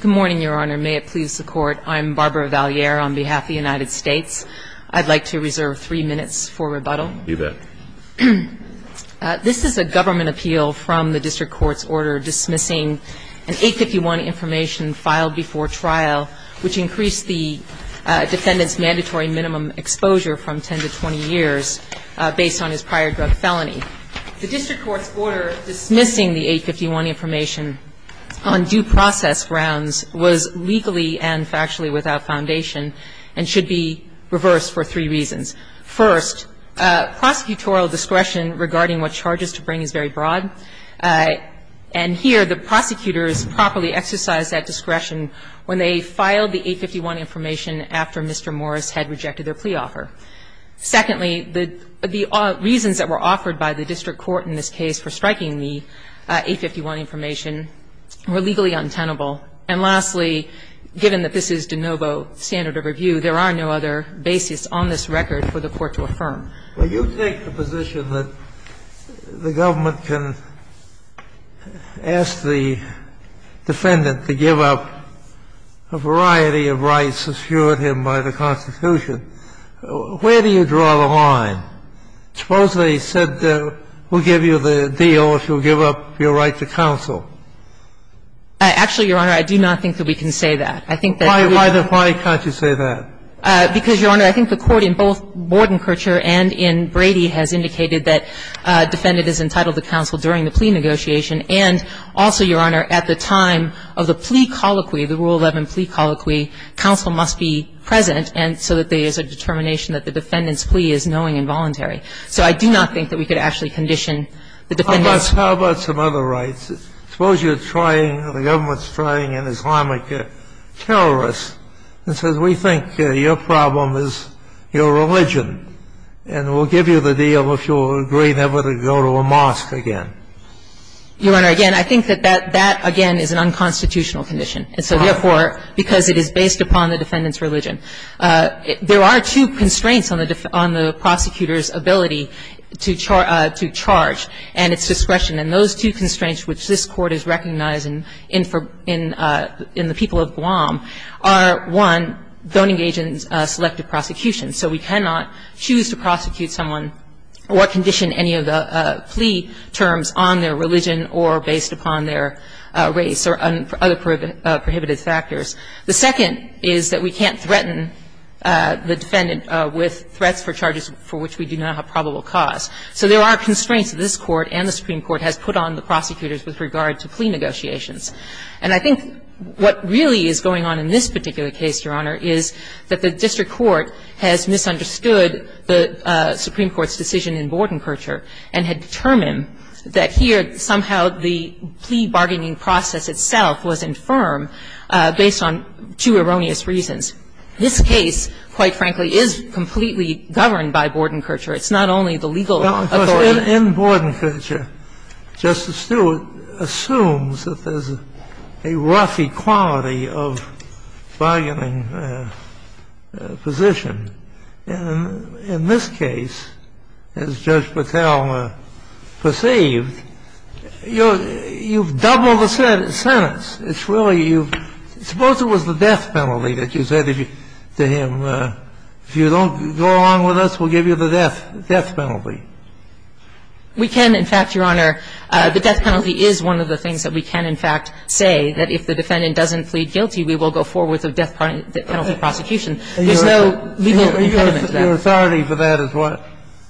Good morning, Your Honor. May it please the Court, I'm Barbara Valliere on behalf of the United States. I'd like to reserve three minutes for rebuttal. You bet. This is a government appeal from the district court's order dismissing an 851 information filed before trial, which increased the defendant's mandatory minimum exposure from 10 to 20 years based on his prior drug felony. The district court's order dismissing the 851 information on due process grounds was legally and factually without foundation and should be reversed for three reasons. First, prosecutorial discretion regarding what charges to bring is very broad, and here the prosecutors properly exercised that discretion when they filed the 851 information after Mr. Morris had rejected their plea offer. Secondly, the reasons that were offered by the district court in this case for striking the 851 information were legally untenable. And lastly, given that this is de novo standard of review, there are no other basis on this record for the Court to affirm. Well, you take the position that the government can ask the defendant to give up a variety of rights assured him by the Constitution. Where do you draw the line? Supposedly he said we'll give you the deal if you'll give up your right to counsel. Actually, Your Honor, I do not think that we can say that. I think that we can't. Why can't you say that? Because, Your Honor, I think the Court in both Bordenkercher and in Brady has indicated that there is a determination that the defendant's plea is knowing and voluntary. So I do not think that we could actually condition the defendant's plea. How about some other rights? Suppose you're trying, the government's trying an Islamic terrorist and says we think your problem is your religion and we'll give you the deal if you'll agree never to go to a mosque again. Your Honor, again, I think that that, again, is an unconstitutional condition. And so, therefore, because it is based upon the defendant's religion. There are two constraints on the prosecutor's ability to charge and its discretion. And those two constraints which this Court is recognizing in the people of Guam are, one, don't engage in selective prosecution. So we cannot choose to prosecute someone or condition any of the plea terms on their religion or based upon their race or other prohibited factors. The second is that we can't threaten the defendant with threats for charges for which we do not have probable cause. So there are constraints that this Court and the Supreme Court has put on the prosecutors with regard to plea negotiations. And I think what really is going on in this particular case, Your Honor, is that the Supreme Court has misunderstood the Supreme Court's decision in Bordenkircher and had determined that here somehow the plea bargaining process itself was infirm based on two erroneous reasons. This case, quite frankly, is completely governed by Bordenkircher. It's not only the legal authority. In Bordenkircher, Justice Stewart assumes that there's a rough equality of bargaining position. And in this case, as Judge Patel perceived, you've doubled the sentence. It's really you've – suppose it was the death penalty that you said to him, if you don't go along with us, we'll give you the death penalty. We can. In fact, Your Honor, the death penalty is one of the things that we can, in fact, say that if the defendant doesn't plead guilty, we will go forward with a death penalty prosecution. There's no legal impediment to that. Your authority for that is what?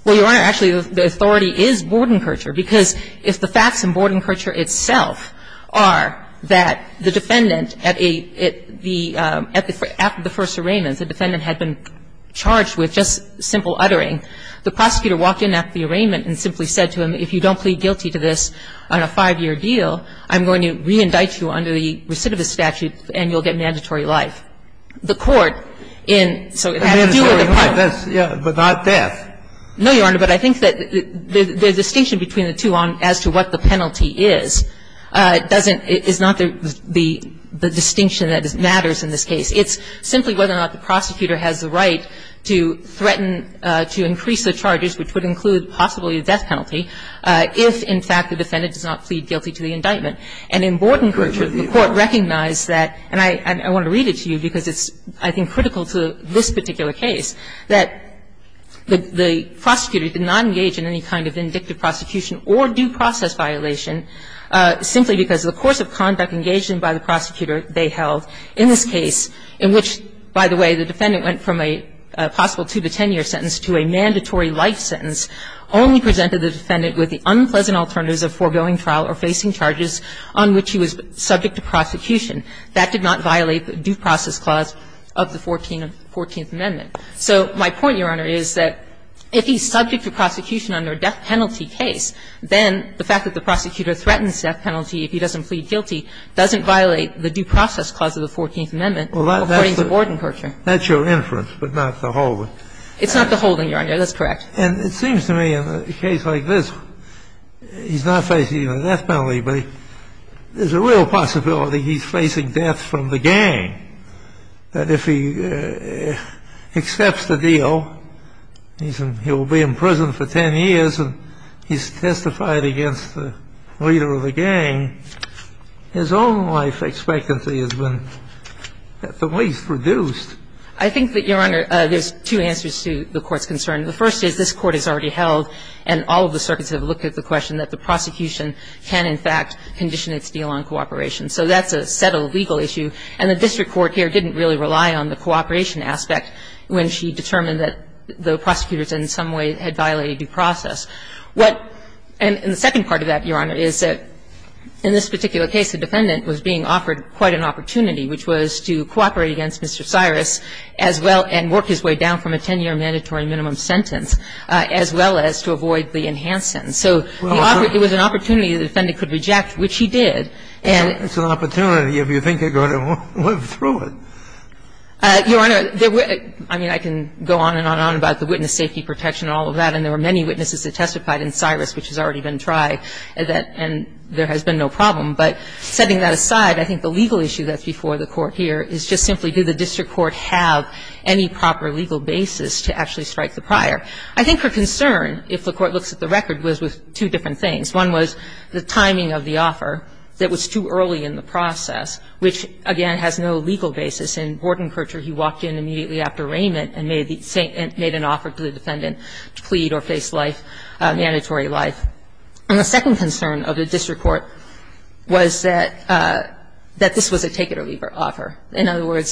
Well, Your Honor, actually the authority is Bordenkircher, because if the facts in Bordenkircher itself are that the defendant at a – at the – after the first arraignment, the defendant had been charged with just simple uttering. The prosecutor walked in after the arraignment and simply said to him, if you don't plead guilty to this on a five-year deal, I'm going to reindict you under the recidivist statute and you'll get mandatory life. The court in – so it has to do with the penalty. But not death. No, Your Honor. But I think that the distinction between the two as to what the penalty is doesn't – is not the distinction that matters in this case. It's simply whether or not the prosecutor has the right to threaten to increase the charges, which would include possibly a death penalty, if, in fact, the defendant does not plead guilty to the indictment. And in Bordenkircher, the court recognized that – and I want to read it to you because it's, I think, critical to this particular case – that the prosecutor did not engage in any kind of indictive prosecution or due process violation simply because of the course of conduct engaged in by the prosecutor they held in this case, in which, by the way, the defendant went from a possible 2- to 10-year sentence to a mandatory life sentence, only presented the defendant with the unpleasant alternatives of foregoing trial or facing charges on which he was subject to prosecution. That did not violate the due process clause of the Fourteenth Amendment. So my point, Your Honor, is that if he's subject to prosecution under a death penalty case, then the fact that the prosecutor threatens death penalty if he doesn't plead guilty doesn't violate the due process clause of the Fourteenth Amendment according to Bordenkircher. That's your inference, but not the holding. It's not the holding, Your Honor. That's correct. And it seems to me in a case like this, he's not facing a death penalty, but there's a real possibility he's facing death from the gang, that if he accepts the deal, he's in he'll be in prison for 10 years and he's testified against the leader of the gang, his own life expectancy has been at the least reduced. I think that, Your Honor, there's two answers to the Court's concern. The first is this Court has already held, and all of the circuits have looked at the question, that the prosecution can, in fact, condition its deal on cooperation. So that's a settled legal issue. And the district court here didn't really rely on the cooperation aspect when she determined that the prosecutors in some way had violated due process. What the second part of that, Your Honor, is that in this particular case, the defendant was being offered quite an opportunity, which was to cooperate against Mr. Cyrus as well and work his way down from a 10-year mandatory minimum sentence, as well as to avoid the enhanced sentence. So it was an opportunity the defendant could reject, which he did. And so it's an opportunity if you think you're going to live through it. Your Honor, I mean, I can go on and on and on about the witness safety protection and all of that, and there were many witnesses that testified in Cyrus, which has already been tried, and there has been no problem. But setting that aside, I think the legal issue that's before the Court here is just simply do the district court have any proper legal basis to actually strike the prior. I think her concern, if the Court looks at the record, was with two different things. One was the timing of the offer that was too early in the process, which, again, has no legal basis. In Bordenkircher, he walked in immediately after arraignment and made an offer to the defendant to plead or face life, mandatory life. And the second concern of the district court was that this was a take-it-or-leave-it offer. court.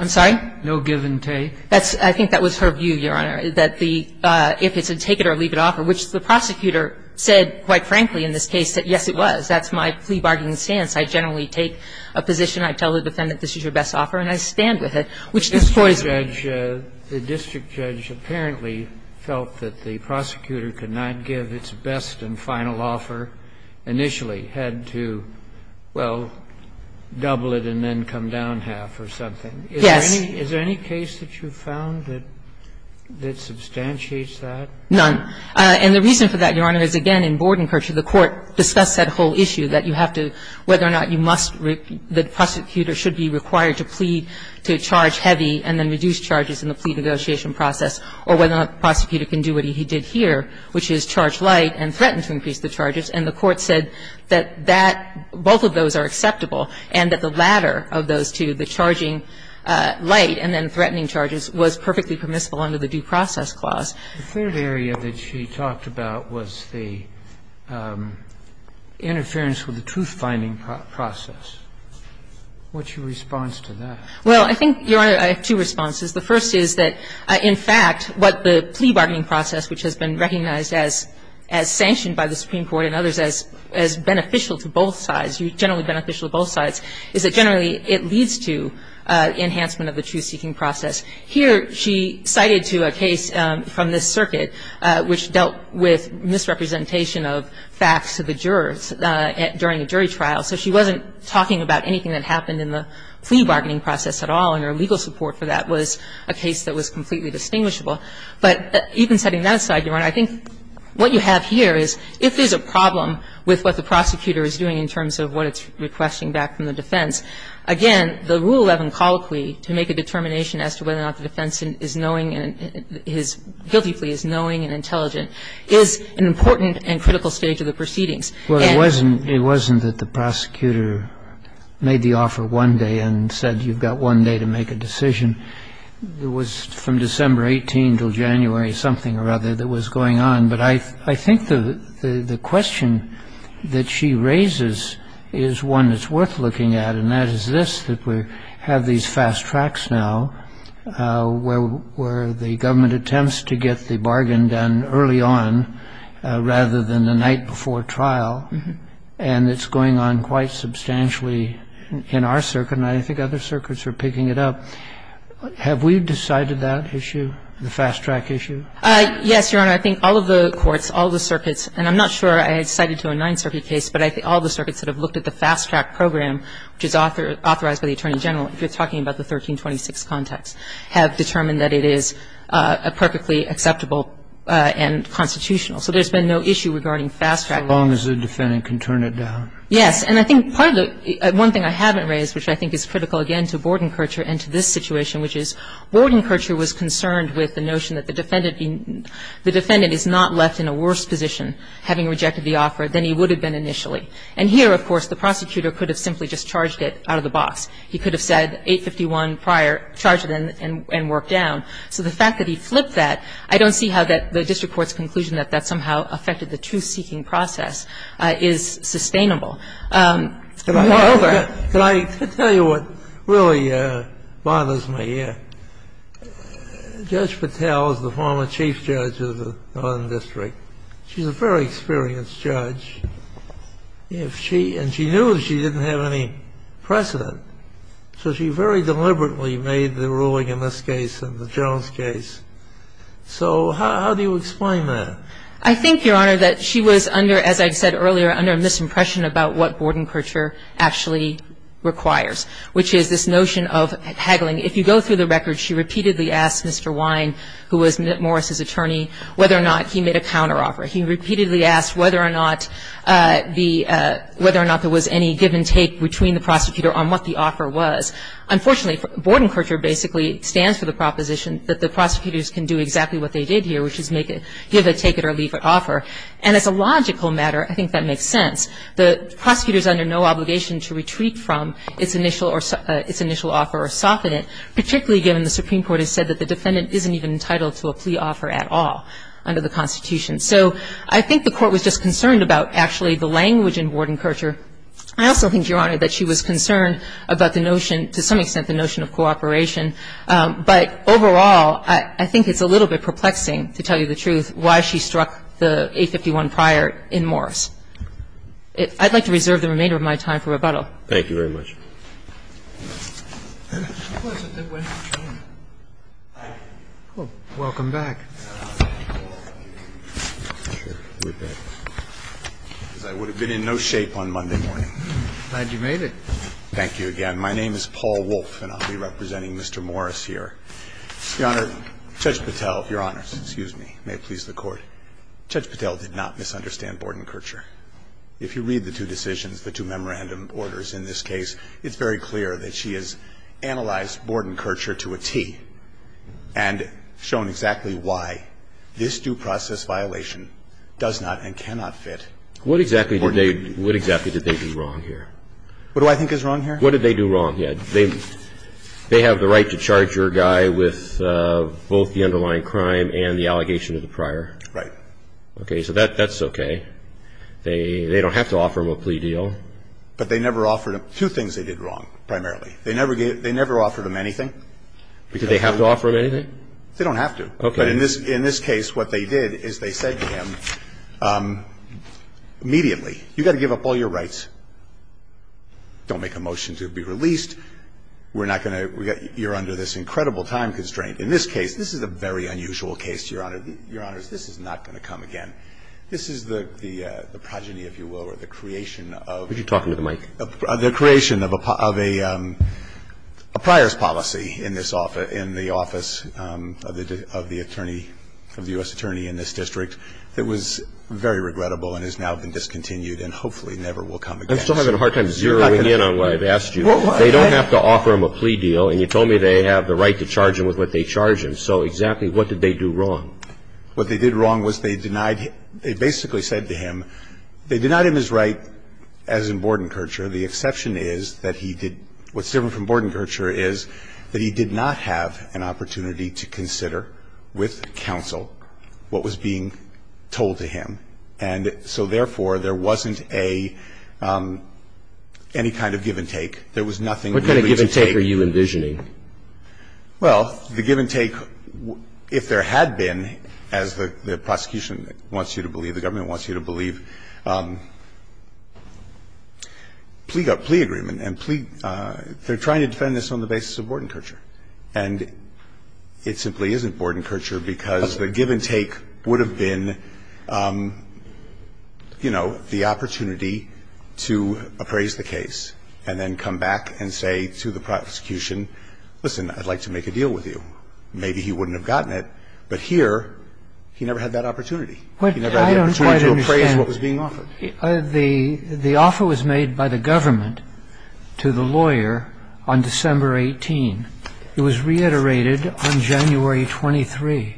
I'm sorry? No give and take. That's – I think that was her view, Your Honor, that the – if it's a take-it-or-leave-it offer, which the prosecutor said, quite frankly, in this case, that yes, it was. That's my plea bargaining stance. I generally take a position. I tell the defendant, this is your best offer, and I stand with it, which is poison. The district judge apparently felt that the prosecutor could not give its best and final offer initially, had to, well, double it and then come down half or something. Yes. Is there any case that you've found that substantiates that? None. And the reason for that, Your Honor, is, again, in Bordenkircher, the court discussed that whole issue, that you have to – whether or not you must – the prosecutor should be required to plead to charge heavy and then reduce charges in the plea negotiation process, or whether or not the prosecutor can do what he did here, which is charge light and threaten to increase the charges. And the court said that that – both of those are acceptable, and that the latter of those two, the charging light and then threatening charges, was perfectly permissible under the Due Process Clause. The third area that she talked about was the interference with the truth-finding process. What's your response to that? Well, I think, Your Honor, I have two responses. The first is that, in fact, what the plea bargaining process, which has been recognized as sanctioned by the Supreme Court and others as beneficial to both sides, generally beneficial to both sides, is that generally it leads to enhancement of the truth-seeking process. Here, she cited to a case from this circuit which dealt with misrepresentation of facts to the jurors during a jury trial. So she wasn't talking about anything that happened in the plea bargaining process at all, and her legal support for that was a case that was completely distinguishable. But even setting that aside, Your Honor, I think what you have here is, if there's a problem with what the prosecutor is doing in terms of what it's requesting back from the defense, again, the Rule 11 colloquy, to make a determination as to whether or not the defense is knowing and is – guilty plea is knowing and intelligent, is an important and critical stage of the proceedings. And the reason that the prosecutor made the offer one day and said you've got one day to make a decision, it was from December 18 until January something or other that was going on. But I think the question that she raises is one that's worth looking at, and that is this, that we have these fast tracks now where the government attempts to get the bargain done early on rather than the night before trial, and it's going on quite substantially in our circuit, and I think other circuits are picking it up. Have we decided that issue, the fast track issue? Yes, Your Honor. I think all of the courts, all of the circuits, and I'm not sure I had cited to a Ninth Circuit case, but I think all of the circuits that have looked at the fast track program, which is authorized by the Attorney General, if you're talking about the 1326 context, have determined that it is a perfectly acceptable and constitutional. So there's been no issue regarding fast track. As long as the defendant can turn it down. Yes. And I think part of the – one thing I haven't raised, which I think is critical again to Bordenkercher and to this situation, which is Bordenkercher was concerned with the notion that the defendant is not left in a worse position, having rejected the offer, than he would have been initially. And here, of course, the prosecutor could have simply just charged it out of the box. He could have said, 851 prior, charge it and work down. So the fact that he flipped that, I don't see how the district court's conclusion that that somehow affected the truth-seeking process is sustainable. Can I tell you what really bothers me here? Judge Patel is the former chief judge of the Northern District. She's a very experienced judge. If she – and she knew she didn't have any precedent. So she very deliberately made the ruling in this case and the Jones case. So how do you explain that? I think, Your Honor, that she was under, as I said earlier, under a misimpression about what Bordenkercher actually requires, which is this notion of haggling. If you go through the records, she repeatedly asked Mr. Wynne, who was Morris's attorney, whether or not he made a counteroffer. He repeatedly asked whether or not the – whether or not there was any give-and-take between the prosecutor on what the offer was. Unfortunately, Bordenkercher basically stands for the proposition that the prosecutors can do exactly what they did here, which is make a give-it-take-it-or-leave-it offer. And as a logical matter, I think that makes sense. The prosecutor is under no obligation to retreat from its initial or – its initial offer or soften it, particularly given the Supreme Court has said that the defendant isn't even entitled to a plea offer at all under the Constitution. So I think the Court was just concerned about actually the language in Bordenkercher. I also think, Your Honor, that she was concerned about the notion – to some extent the notion of cooperation. But overall, I think it's a little bit perplexing, to tell you the truth, why she didn't obstruct the A51 prior in Morris. I'd like to reserve the remainder of my time for rebuttal. Thank you very much. Welcome back. I would have been in no shape on Monday morning. Glad you made it. Thank you again. My name is Paul Wolfe, and I'll be representing Mr. Morris here. Your Honor, Judge Patel, Your Honors, excuse me, may it please the Court. Judge Patel did not misunderstand Bordenkercher. If you read the two decisions, the two memorandum orders in this case, it's very clear that she has analyzed Bordenkercher to a T and shown exactly why this due process violation does not and cannot fit Bordenkercher. What exactly did they do wrong here? What do I think is wrong here? What did they do wrong? They have the right to charge your guy with both the underlying crime and the allegation of the prior. Right. Okay, so that's okay. They don't have to offer him a plea deal. But they never offered him two things they did wrong, primarily. They never offered him anything. Did they have to offer him anything? They don't have to. Okay. But in this case, what they did is they said to him, immediately, you've got to give up all your rights. Don't make a motion to be released. We're not going to you're under this incredible time constraint. In this case, this is a very unusual case, Your Honor. Your Honor, this is not going to come again. This is the progeny, if you will, or the creation of the creation of a prior's policy in this office, in the office of the attorney, of the U.S. attorney in this district, that was very regrettable and has now been discontinued and hopefully never will come again. I'm still having a hard time zeroing in on what I've asked you. They don't have to offer him a plea deal. And you told me they have the right to charge him with what they charge him. So exactly what did they do wrong? What they did wrong was they denied him they basically said to him, they denied him his right as in Bordenkercher. The exception is that he did what's different from Bordenkercher is that he did not have an opportunity to consider with counsel what was being told to him. And so, therefore, there wasn't a any kind of give and take. There was nothing really to take. What kind of give and take are you envisioning? Well, the give and take, if there had been, as the prosecution wants you to believe, the government wants you to believe, plea agreement and plea they're trying to defend this on the basis of Bordenkercher. And it simply isn't Bordenkercher because the give and take would have been, you know, the opportunity to appraise the case and then come back and say to the prosecution, listen, I'd like to make a deal with you. Maybe he wouldn't have gotten it, but here he never had that opportunity. He never had the opportunity to appraise what was being offered. I don't quite understand. The offer was made by the government to the lawyer on December 18. It was reiterated on January 23.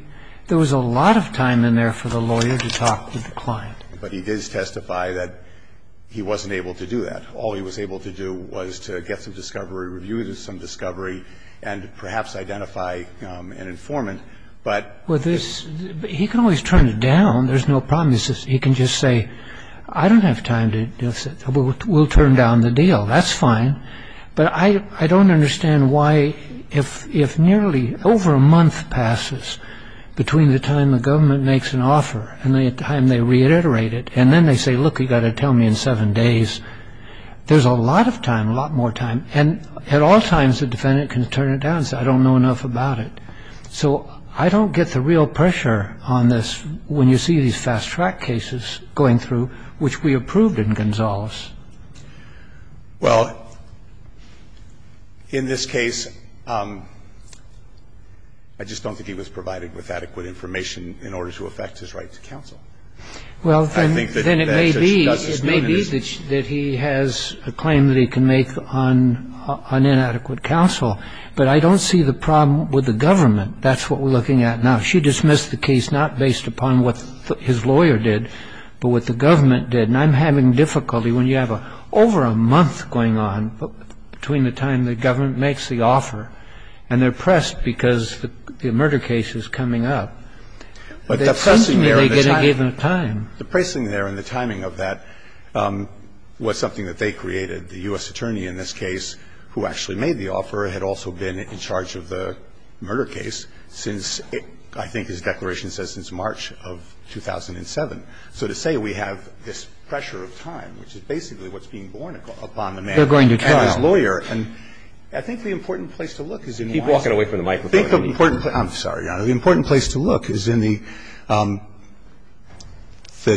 There was a lot of time in there for the lawyer to talk with the client. But he did testify that he wasn't able to do that. All he was able to do was to get some discovery, review some discovery, and perhaps identify an informant. But with this, he can always turn it down. There's no problem. He can just say, I don't have time to do this. We'll turn down the deal. That's fine. But I don't understand why, if nearly over a month passes between the time the government makes an offer and the time they reiterate it, and then they say, look, you've got to tell me in seven days, there's a lot of time, a lot more time. And at all times, the defendant can turn it down and say, I don't know enough about it. So I don't get the real pressure on this when you see these fast-track cases going through, which we approved in Gonzales. Well, in this case, I just don't think he was provided with adequate information in order to affect his right to counsel. I think that that's what she does is notice that he has a claim that he can make on inadequate counsel. But I don't see the problem with the government. That's what we're looking at. Now, she dismissed the case not based upon what his lawyer did, but what the government did. And I'm having difficulty when you have over a month going on between the time the government makes the offer, and they're pressed because the murder case is coming up. But the pressing there and the timing of that was something that they created. The U.S. attorney in this case who actually made the offer had also been in charge of the murder case since, I think his declaration says since March of 2007. So to say we have this pressure of time, which is basically what's being borne upon the man and his lawyer. And I think the important place to look is in one of the other cases. I'm sorry, Your Honor. The important place to look is in the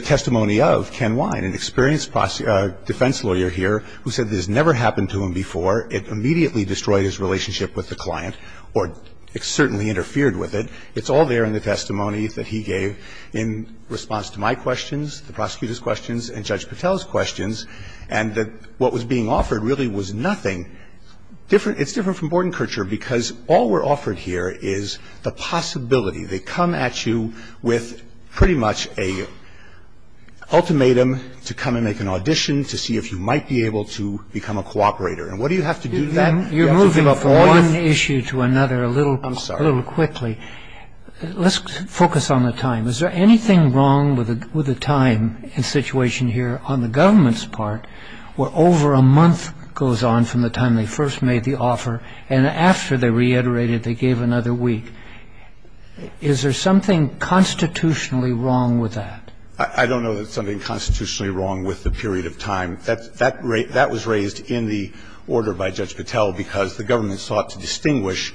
testimony of Ken Wine, an experienced defense lawyer here who said this never happened to him before. It immediately destroyed his relationship with the client or certainly interfered with it. It's all there in the testimony that he gave in response to my questions, the prosecutor's questions, and Judge Patel's questions. And that what was being offered really was nothing different. It's different from Bordenkircher because all we're offered here is the possibility. They come at you with pretty much a ultimatum to come and make an audition to see if you might be able to become a cooperator. And what do you have to do then? You have to give up all your issues. You're moving from one issue to another a little quickly. I'm sorry. Let's focus on the time. Is there anything wrong with the time and situation here on the government's part where over a month goes on from the time they first made the offer, and after they reiterated they gave another week, is there something constitutionally wrong with that? I don't know that there's something constitutionally wrong with the period of time. That was raised in the order by Judge Patel because the government sought to distinguish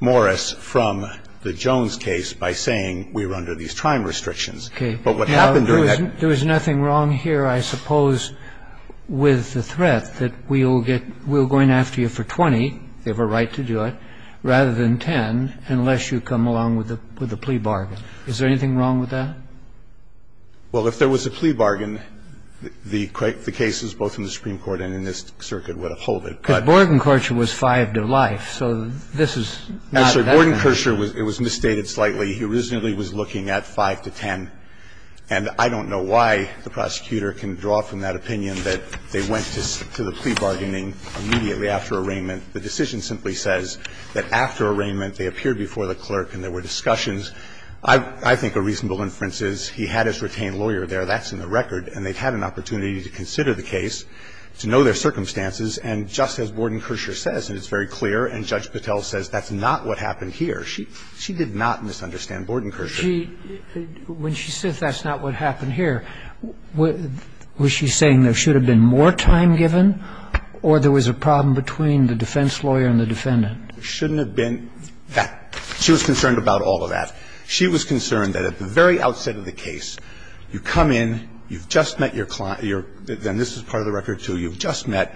Morris from the Jones case by saying we were under these time restrictions. Okay. But what happened during that period was that there was nothing wrong here. I suppose with the threat that we'll get we're going after you for 20, you have a right to do it, rather than 10, unless you come along with a plea bargain. Is there anything wrong with that? Well, if there was a plea bargain, the cases both in the Supreme Court and in this circuit would uphold it. But Bordenkircher was five to life, so this is not a bad thing. Actually, Bordenkircher was misstated slightly. He originally was looking at five to 10. And I don't know why the prosecutor can draw from that opinion that they went to the plea bargaining immediately after arraignment. The decision simply says that after arraignment, they appeared before the clerk and there were discussions. I think a reasonable inference is he had his retained lawyer there. That's in the record. And they had an opportunity to consider the case, to know their circumstances. And just as Bordenkircher says, and it's very clear, and Judge Patel says that's not what happened here, she did not misunderstand Bordenkircher. When she says that's not what happened here, was she saying there should have been more time given or there was a problem between the defense lawyer and the defendant? There shouldn't have been that. She was concerned about all of that. She was concerned that at the very outset of the case, you come in, you've just met your client, and this is part of the record, too. You've just met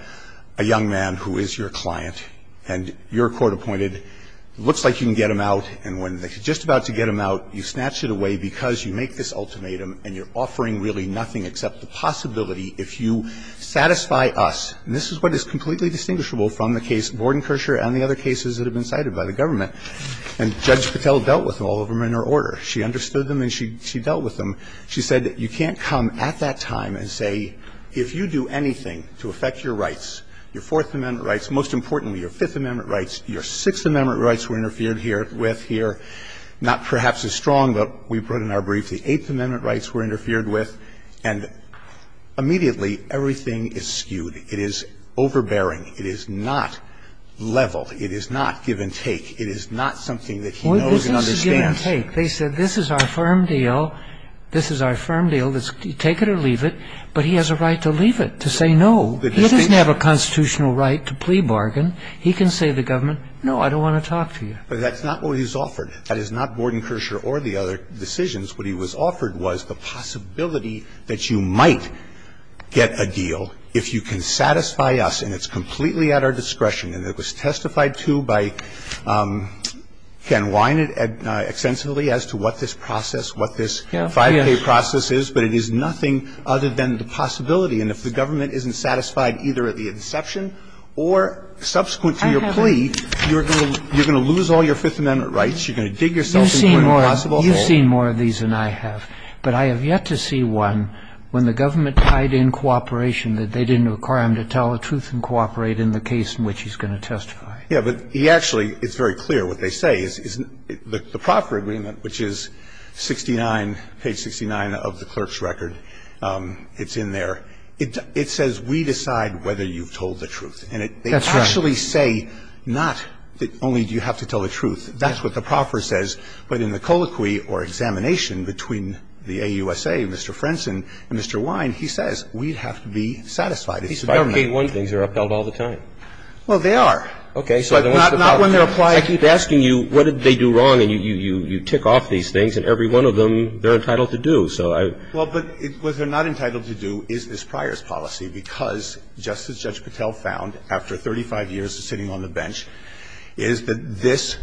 a young man who is your client, and you're court-appointed. It looks like you can get him out, and when you're just about to get him out, you snatch it away because you make this ultimatum and you're offering really nothing except the possibility if you satisfy us. And this is what is completely distinguishable from the case Bordenkircher and the other cases that have been cited by the government. And Judge Patel dealt with all of them in her order. She understood them and she dealt with them. She said you can't come at that time and say, if you do anything to affect your rights, your Fourth Amendment rights, most importantly your Fifth Amendment rights, your Sixth Amendment rights were interfered with here, not perhaps as strong, but we put in our brief the Eighth Amendment rights were interfered with, and immediately everything is skewed. It is overbearing. It is not level. It is not give and take. It is not something that he knows and understands. They said this is our firm deal. This is our firm deal. Take it or leave it. But he has a right to leave it, to say no. He doesn't have a constitutional right to plea bargain. He can say to the government, no, I don't want to talk to you. But that's not what he's offered. That is not Bordenkircher or the other decisions. What he was offered was the possibility that you might get a deal if you can satisfy us, and it's completely at our discretion. And it was testified to by Ken Wine extensively as to what this process, what this 5K process is. But it is nothing other than the possibility. And if the government isn't satisfied either at the inception or subsequent to your plea, you're going to lose all your Fifth Amendment rights. You're going to dig yourself into an impossible hole. You've seen more of these than I have. But I have yet to see one when the government tied in cooperation that they didn't require him to tell the truth and cooperate in the case in which he's going to testify. Yeah. But he actually, it's very clear what they say is the proper agreement, which is 69, page 69 of the clerk's record. It's in there. It says we decide whether you've told the truth. That's right. And they actually say not that only do you have to tell the truth. That's what the proffer says. But in the colloquy or examination between the AUSA and Mr. Frenson and Mr. Wine, he says we'd have to be satisfied. These 5K1 things are upheld all the time. Well, they are. Okay. But not when they're applied. I keep asking you what did they do wrong, and you tick off these things, and every one of them says they're entitled to do. Well, but what they're not entitled to do is this priors policy because, just as Judge Patel found after 35 years of sitting on the bench, is that this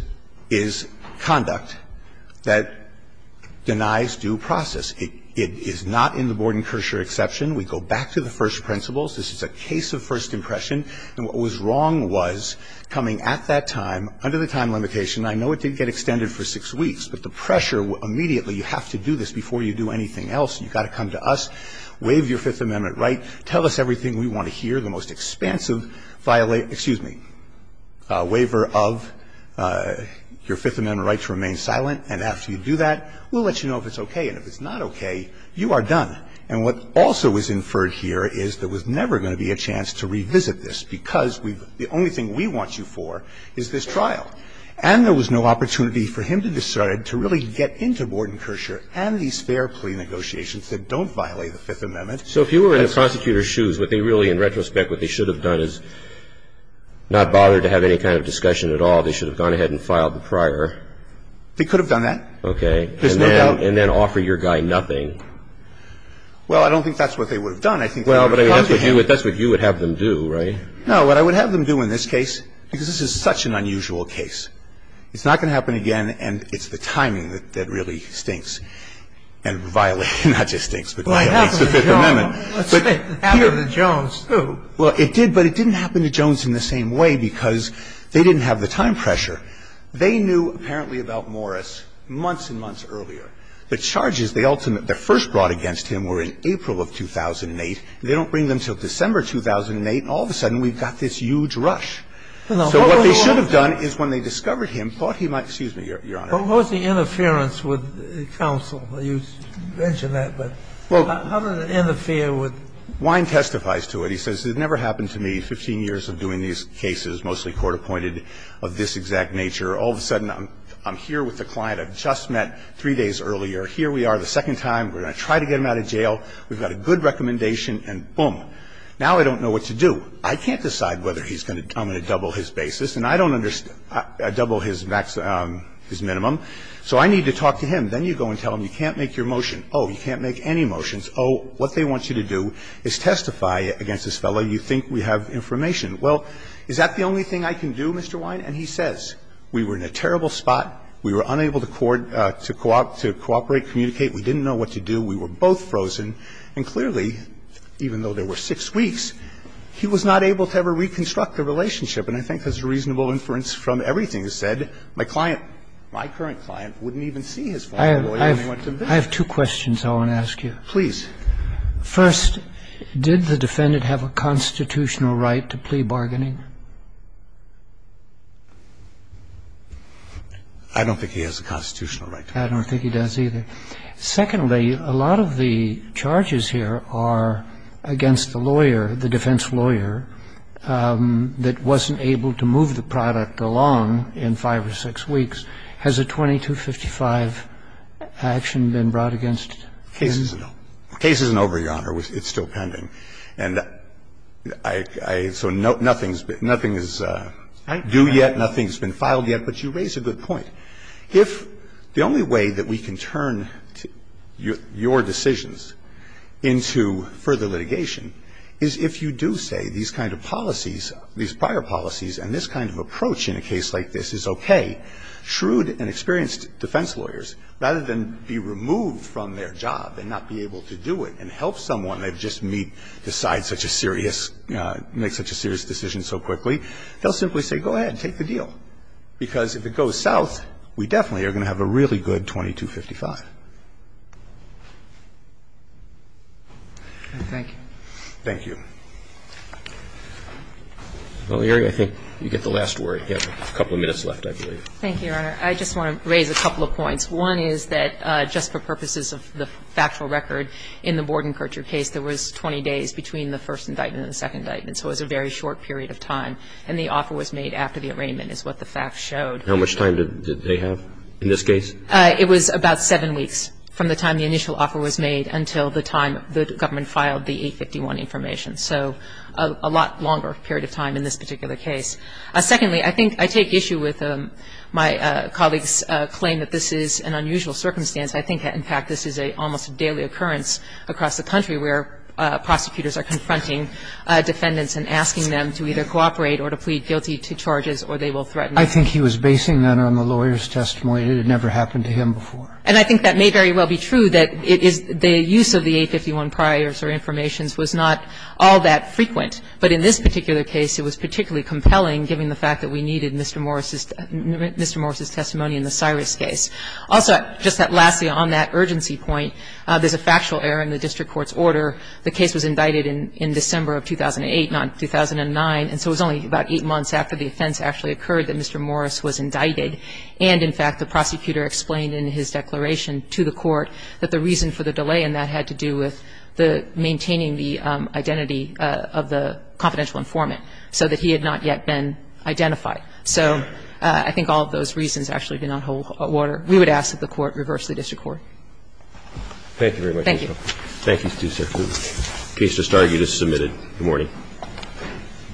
is conduct that denies due process. It is not in the Borden-Kirscher exception. We go back to the first principles. This is a case of first impression. And what was wrong was coming at that time, under the time limitation, I know it didn't get extended for six weeks, but the pressure immediately, you have to do this before you do anything else. You've got to come to us, waive your Fifth Amendment right, tell us everything we want to hear, the most expansive violation, excuse me, waiver of your Fifth Amendment right to remain silent. And after you do that, we'll let you know if it's okay. And if it's not okay, you are done. And what also is inferred here is there was never going to be a chance to revisit this because we've the only thing we want you for is this trial. And there was no opportunity for him to decide to really get into Borden-Kirscher and these fair plea negotiations that don't violate the Fifth Amendment. So if you were in the prosecutor's shoes, would they really, in retrospect, what they should have done is not bother to have any kind of discussion at all. They should have gone ahead and filed the prior. They could have done that. Okay. There's no doubt. And then offer your guy nothing. Well, I don't think that's what they would have done. I think they would have contacted him. Well, but that's what you would have them do, right? No, what I would have them do in this case, because this is such an unusual case, it's not going to happen again, and it's the timing that really stinks and violates Well, it happened to Jones. It happened to Jones, too. Well, it did, but it didn't happen to Jones in the same way because they didn't have the time pressure. They knew apparently about Morris months and months earlier. The charges, the ultimate, the first brought against him were in April of 2008. They don't bring them until December 2008. All of a sudden, we've got this huge rush. So what they should have done is when they discovered him, thought he might, excuse me, Your Honor. What was the interference with counsel? You mentioned that, but how did it interfere with Wine testifies to it. He says, it never happened to me, 15 years of doing these cases, mostly court-appointed, of this exact nature. All of a sudden, I'm here with the client I've just met three days earlier. Here we are the second time. We're going to try to get him out of jail. We've got a good recommendation, and boom. Now I don't know what to do. I can't decide whether he's going to do it on a double his basis. And I don't understand double his minimum. So I need to talk to him. Then you go and tell him you can't make your motion. Oh, you can't make any motions. Oh, what they want you to do is testify against this fellow. You think we have information. Well, is that the only thing I can do, Mr. Wine? And he says, we were in a terrible spot. We were unable to cooperate, communicate. We didn't know what to do. We were both frozen. And clearly, even though there were six weeks, he was not able to ever reconstruct the relationship. And I think there's reasonable inference from everything. He said, my client, my current client, wouldn't even see his former lawyer. I have two questions I want to ask you. Please. First, did the defendant have a constitutional right to plea bargaining? I don't think he has a constitutional right. I don't think he does either. I don't think he does either. I don't think he does either. Okay. Secondly, a lot of the charges here are against the lawyer, the defense lawyer, that wasn't able to move the product along in five or six weeks. Has a 2255 action been brought against him? The case isn't over, Your Honor. It's still pending. And so nothing is due yet. Nothing has been filed yet. But you raise a good point. If the only way that we can turn your decisions into further litigation is if you do say these kind of policies, these prior policies and this kind of approach in a case like this is okay, shrewd and experienced defense lawyers, rather than be removed from their job and not be able to do it and help someone they've just meet decide such a serious, make such a serious decision so quickly, they'll simply say, go ahead, take the deal, because if it goes south, we definitely are going to have a really good 2255. Thank you. Thank you. Well, Erie, I think you get the last word. You have a couple of minutes left, I believe. Thank you, Your Honor. I just want to raise a couple of points. One is that just for purposes of the factual record in the Bordenkercher case, there was 20 days between the first indictment and the second indictment. So it was a very short period of time. And the offer was made after the arraignment is what the facts showed. How much time did they have in this case? It was about seven weeks from the time the initial offer was made until the time the government filed the 851 information. So a lot longer period of time in this particular case. Secondly, I think I take issue with my colleague's claim that this is an unusual circumstance. I think that, in fact, this is a almost daily occurrence across the country where prosecutors are confronting defendants and asking them to either cooperate or to plead guilty to charges or they will threaten them. I think he was basing that on the lawyer's testimony. It had never happened to him before. And I think that may very well be true, that it is the use of the 851 priors or information was not all that frequent. But in this particular case, it was particularly compelling, given the fact that we needed Mr. Morris's testimony in the Cyrus case. Also, just lastly, on that urgency point, there's a factual error in the district court's order. The case was indicted in December of 2008, not 2009. And so it was only about eight months after the offense actually occurred that Mr. Morris was indicted. And, in fact, the prosecutor explained in his declaration to the court that the reason for the delay in that had to do with the maintaining the identity of the confidential informant so that he had not yet been identified. So I think all of those reasons actually do not hold water. We would ask that the Court reverse the district court. Thank you very much. Thank you. Thank you, Mr. Chief Justice. The case has started. You just submitted. Good morning.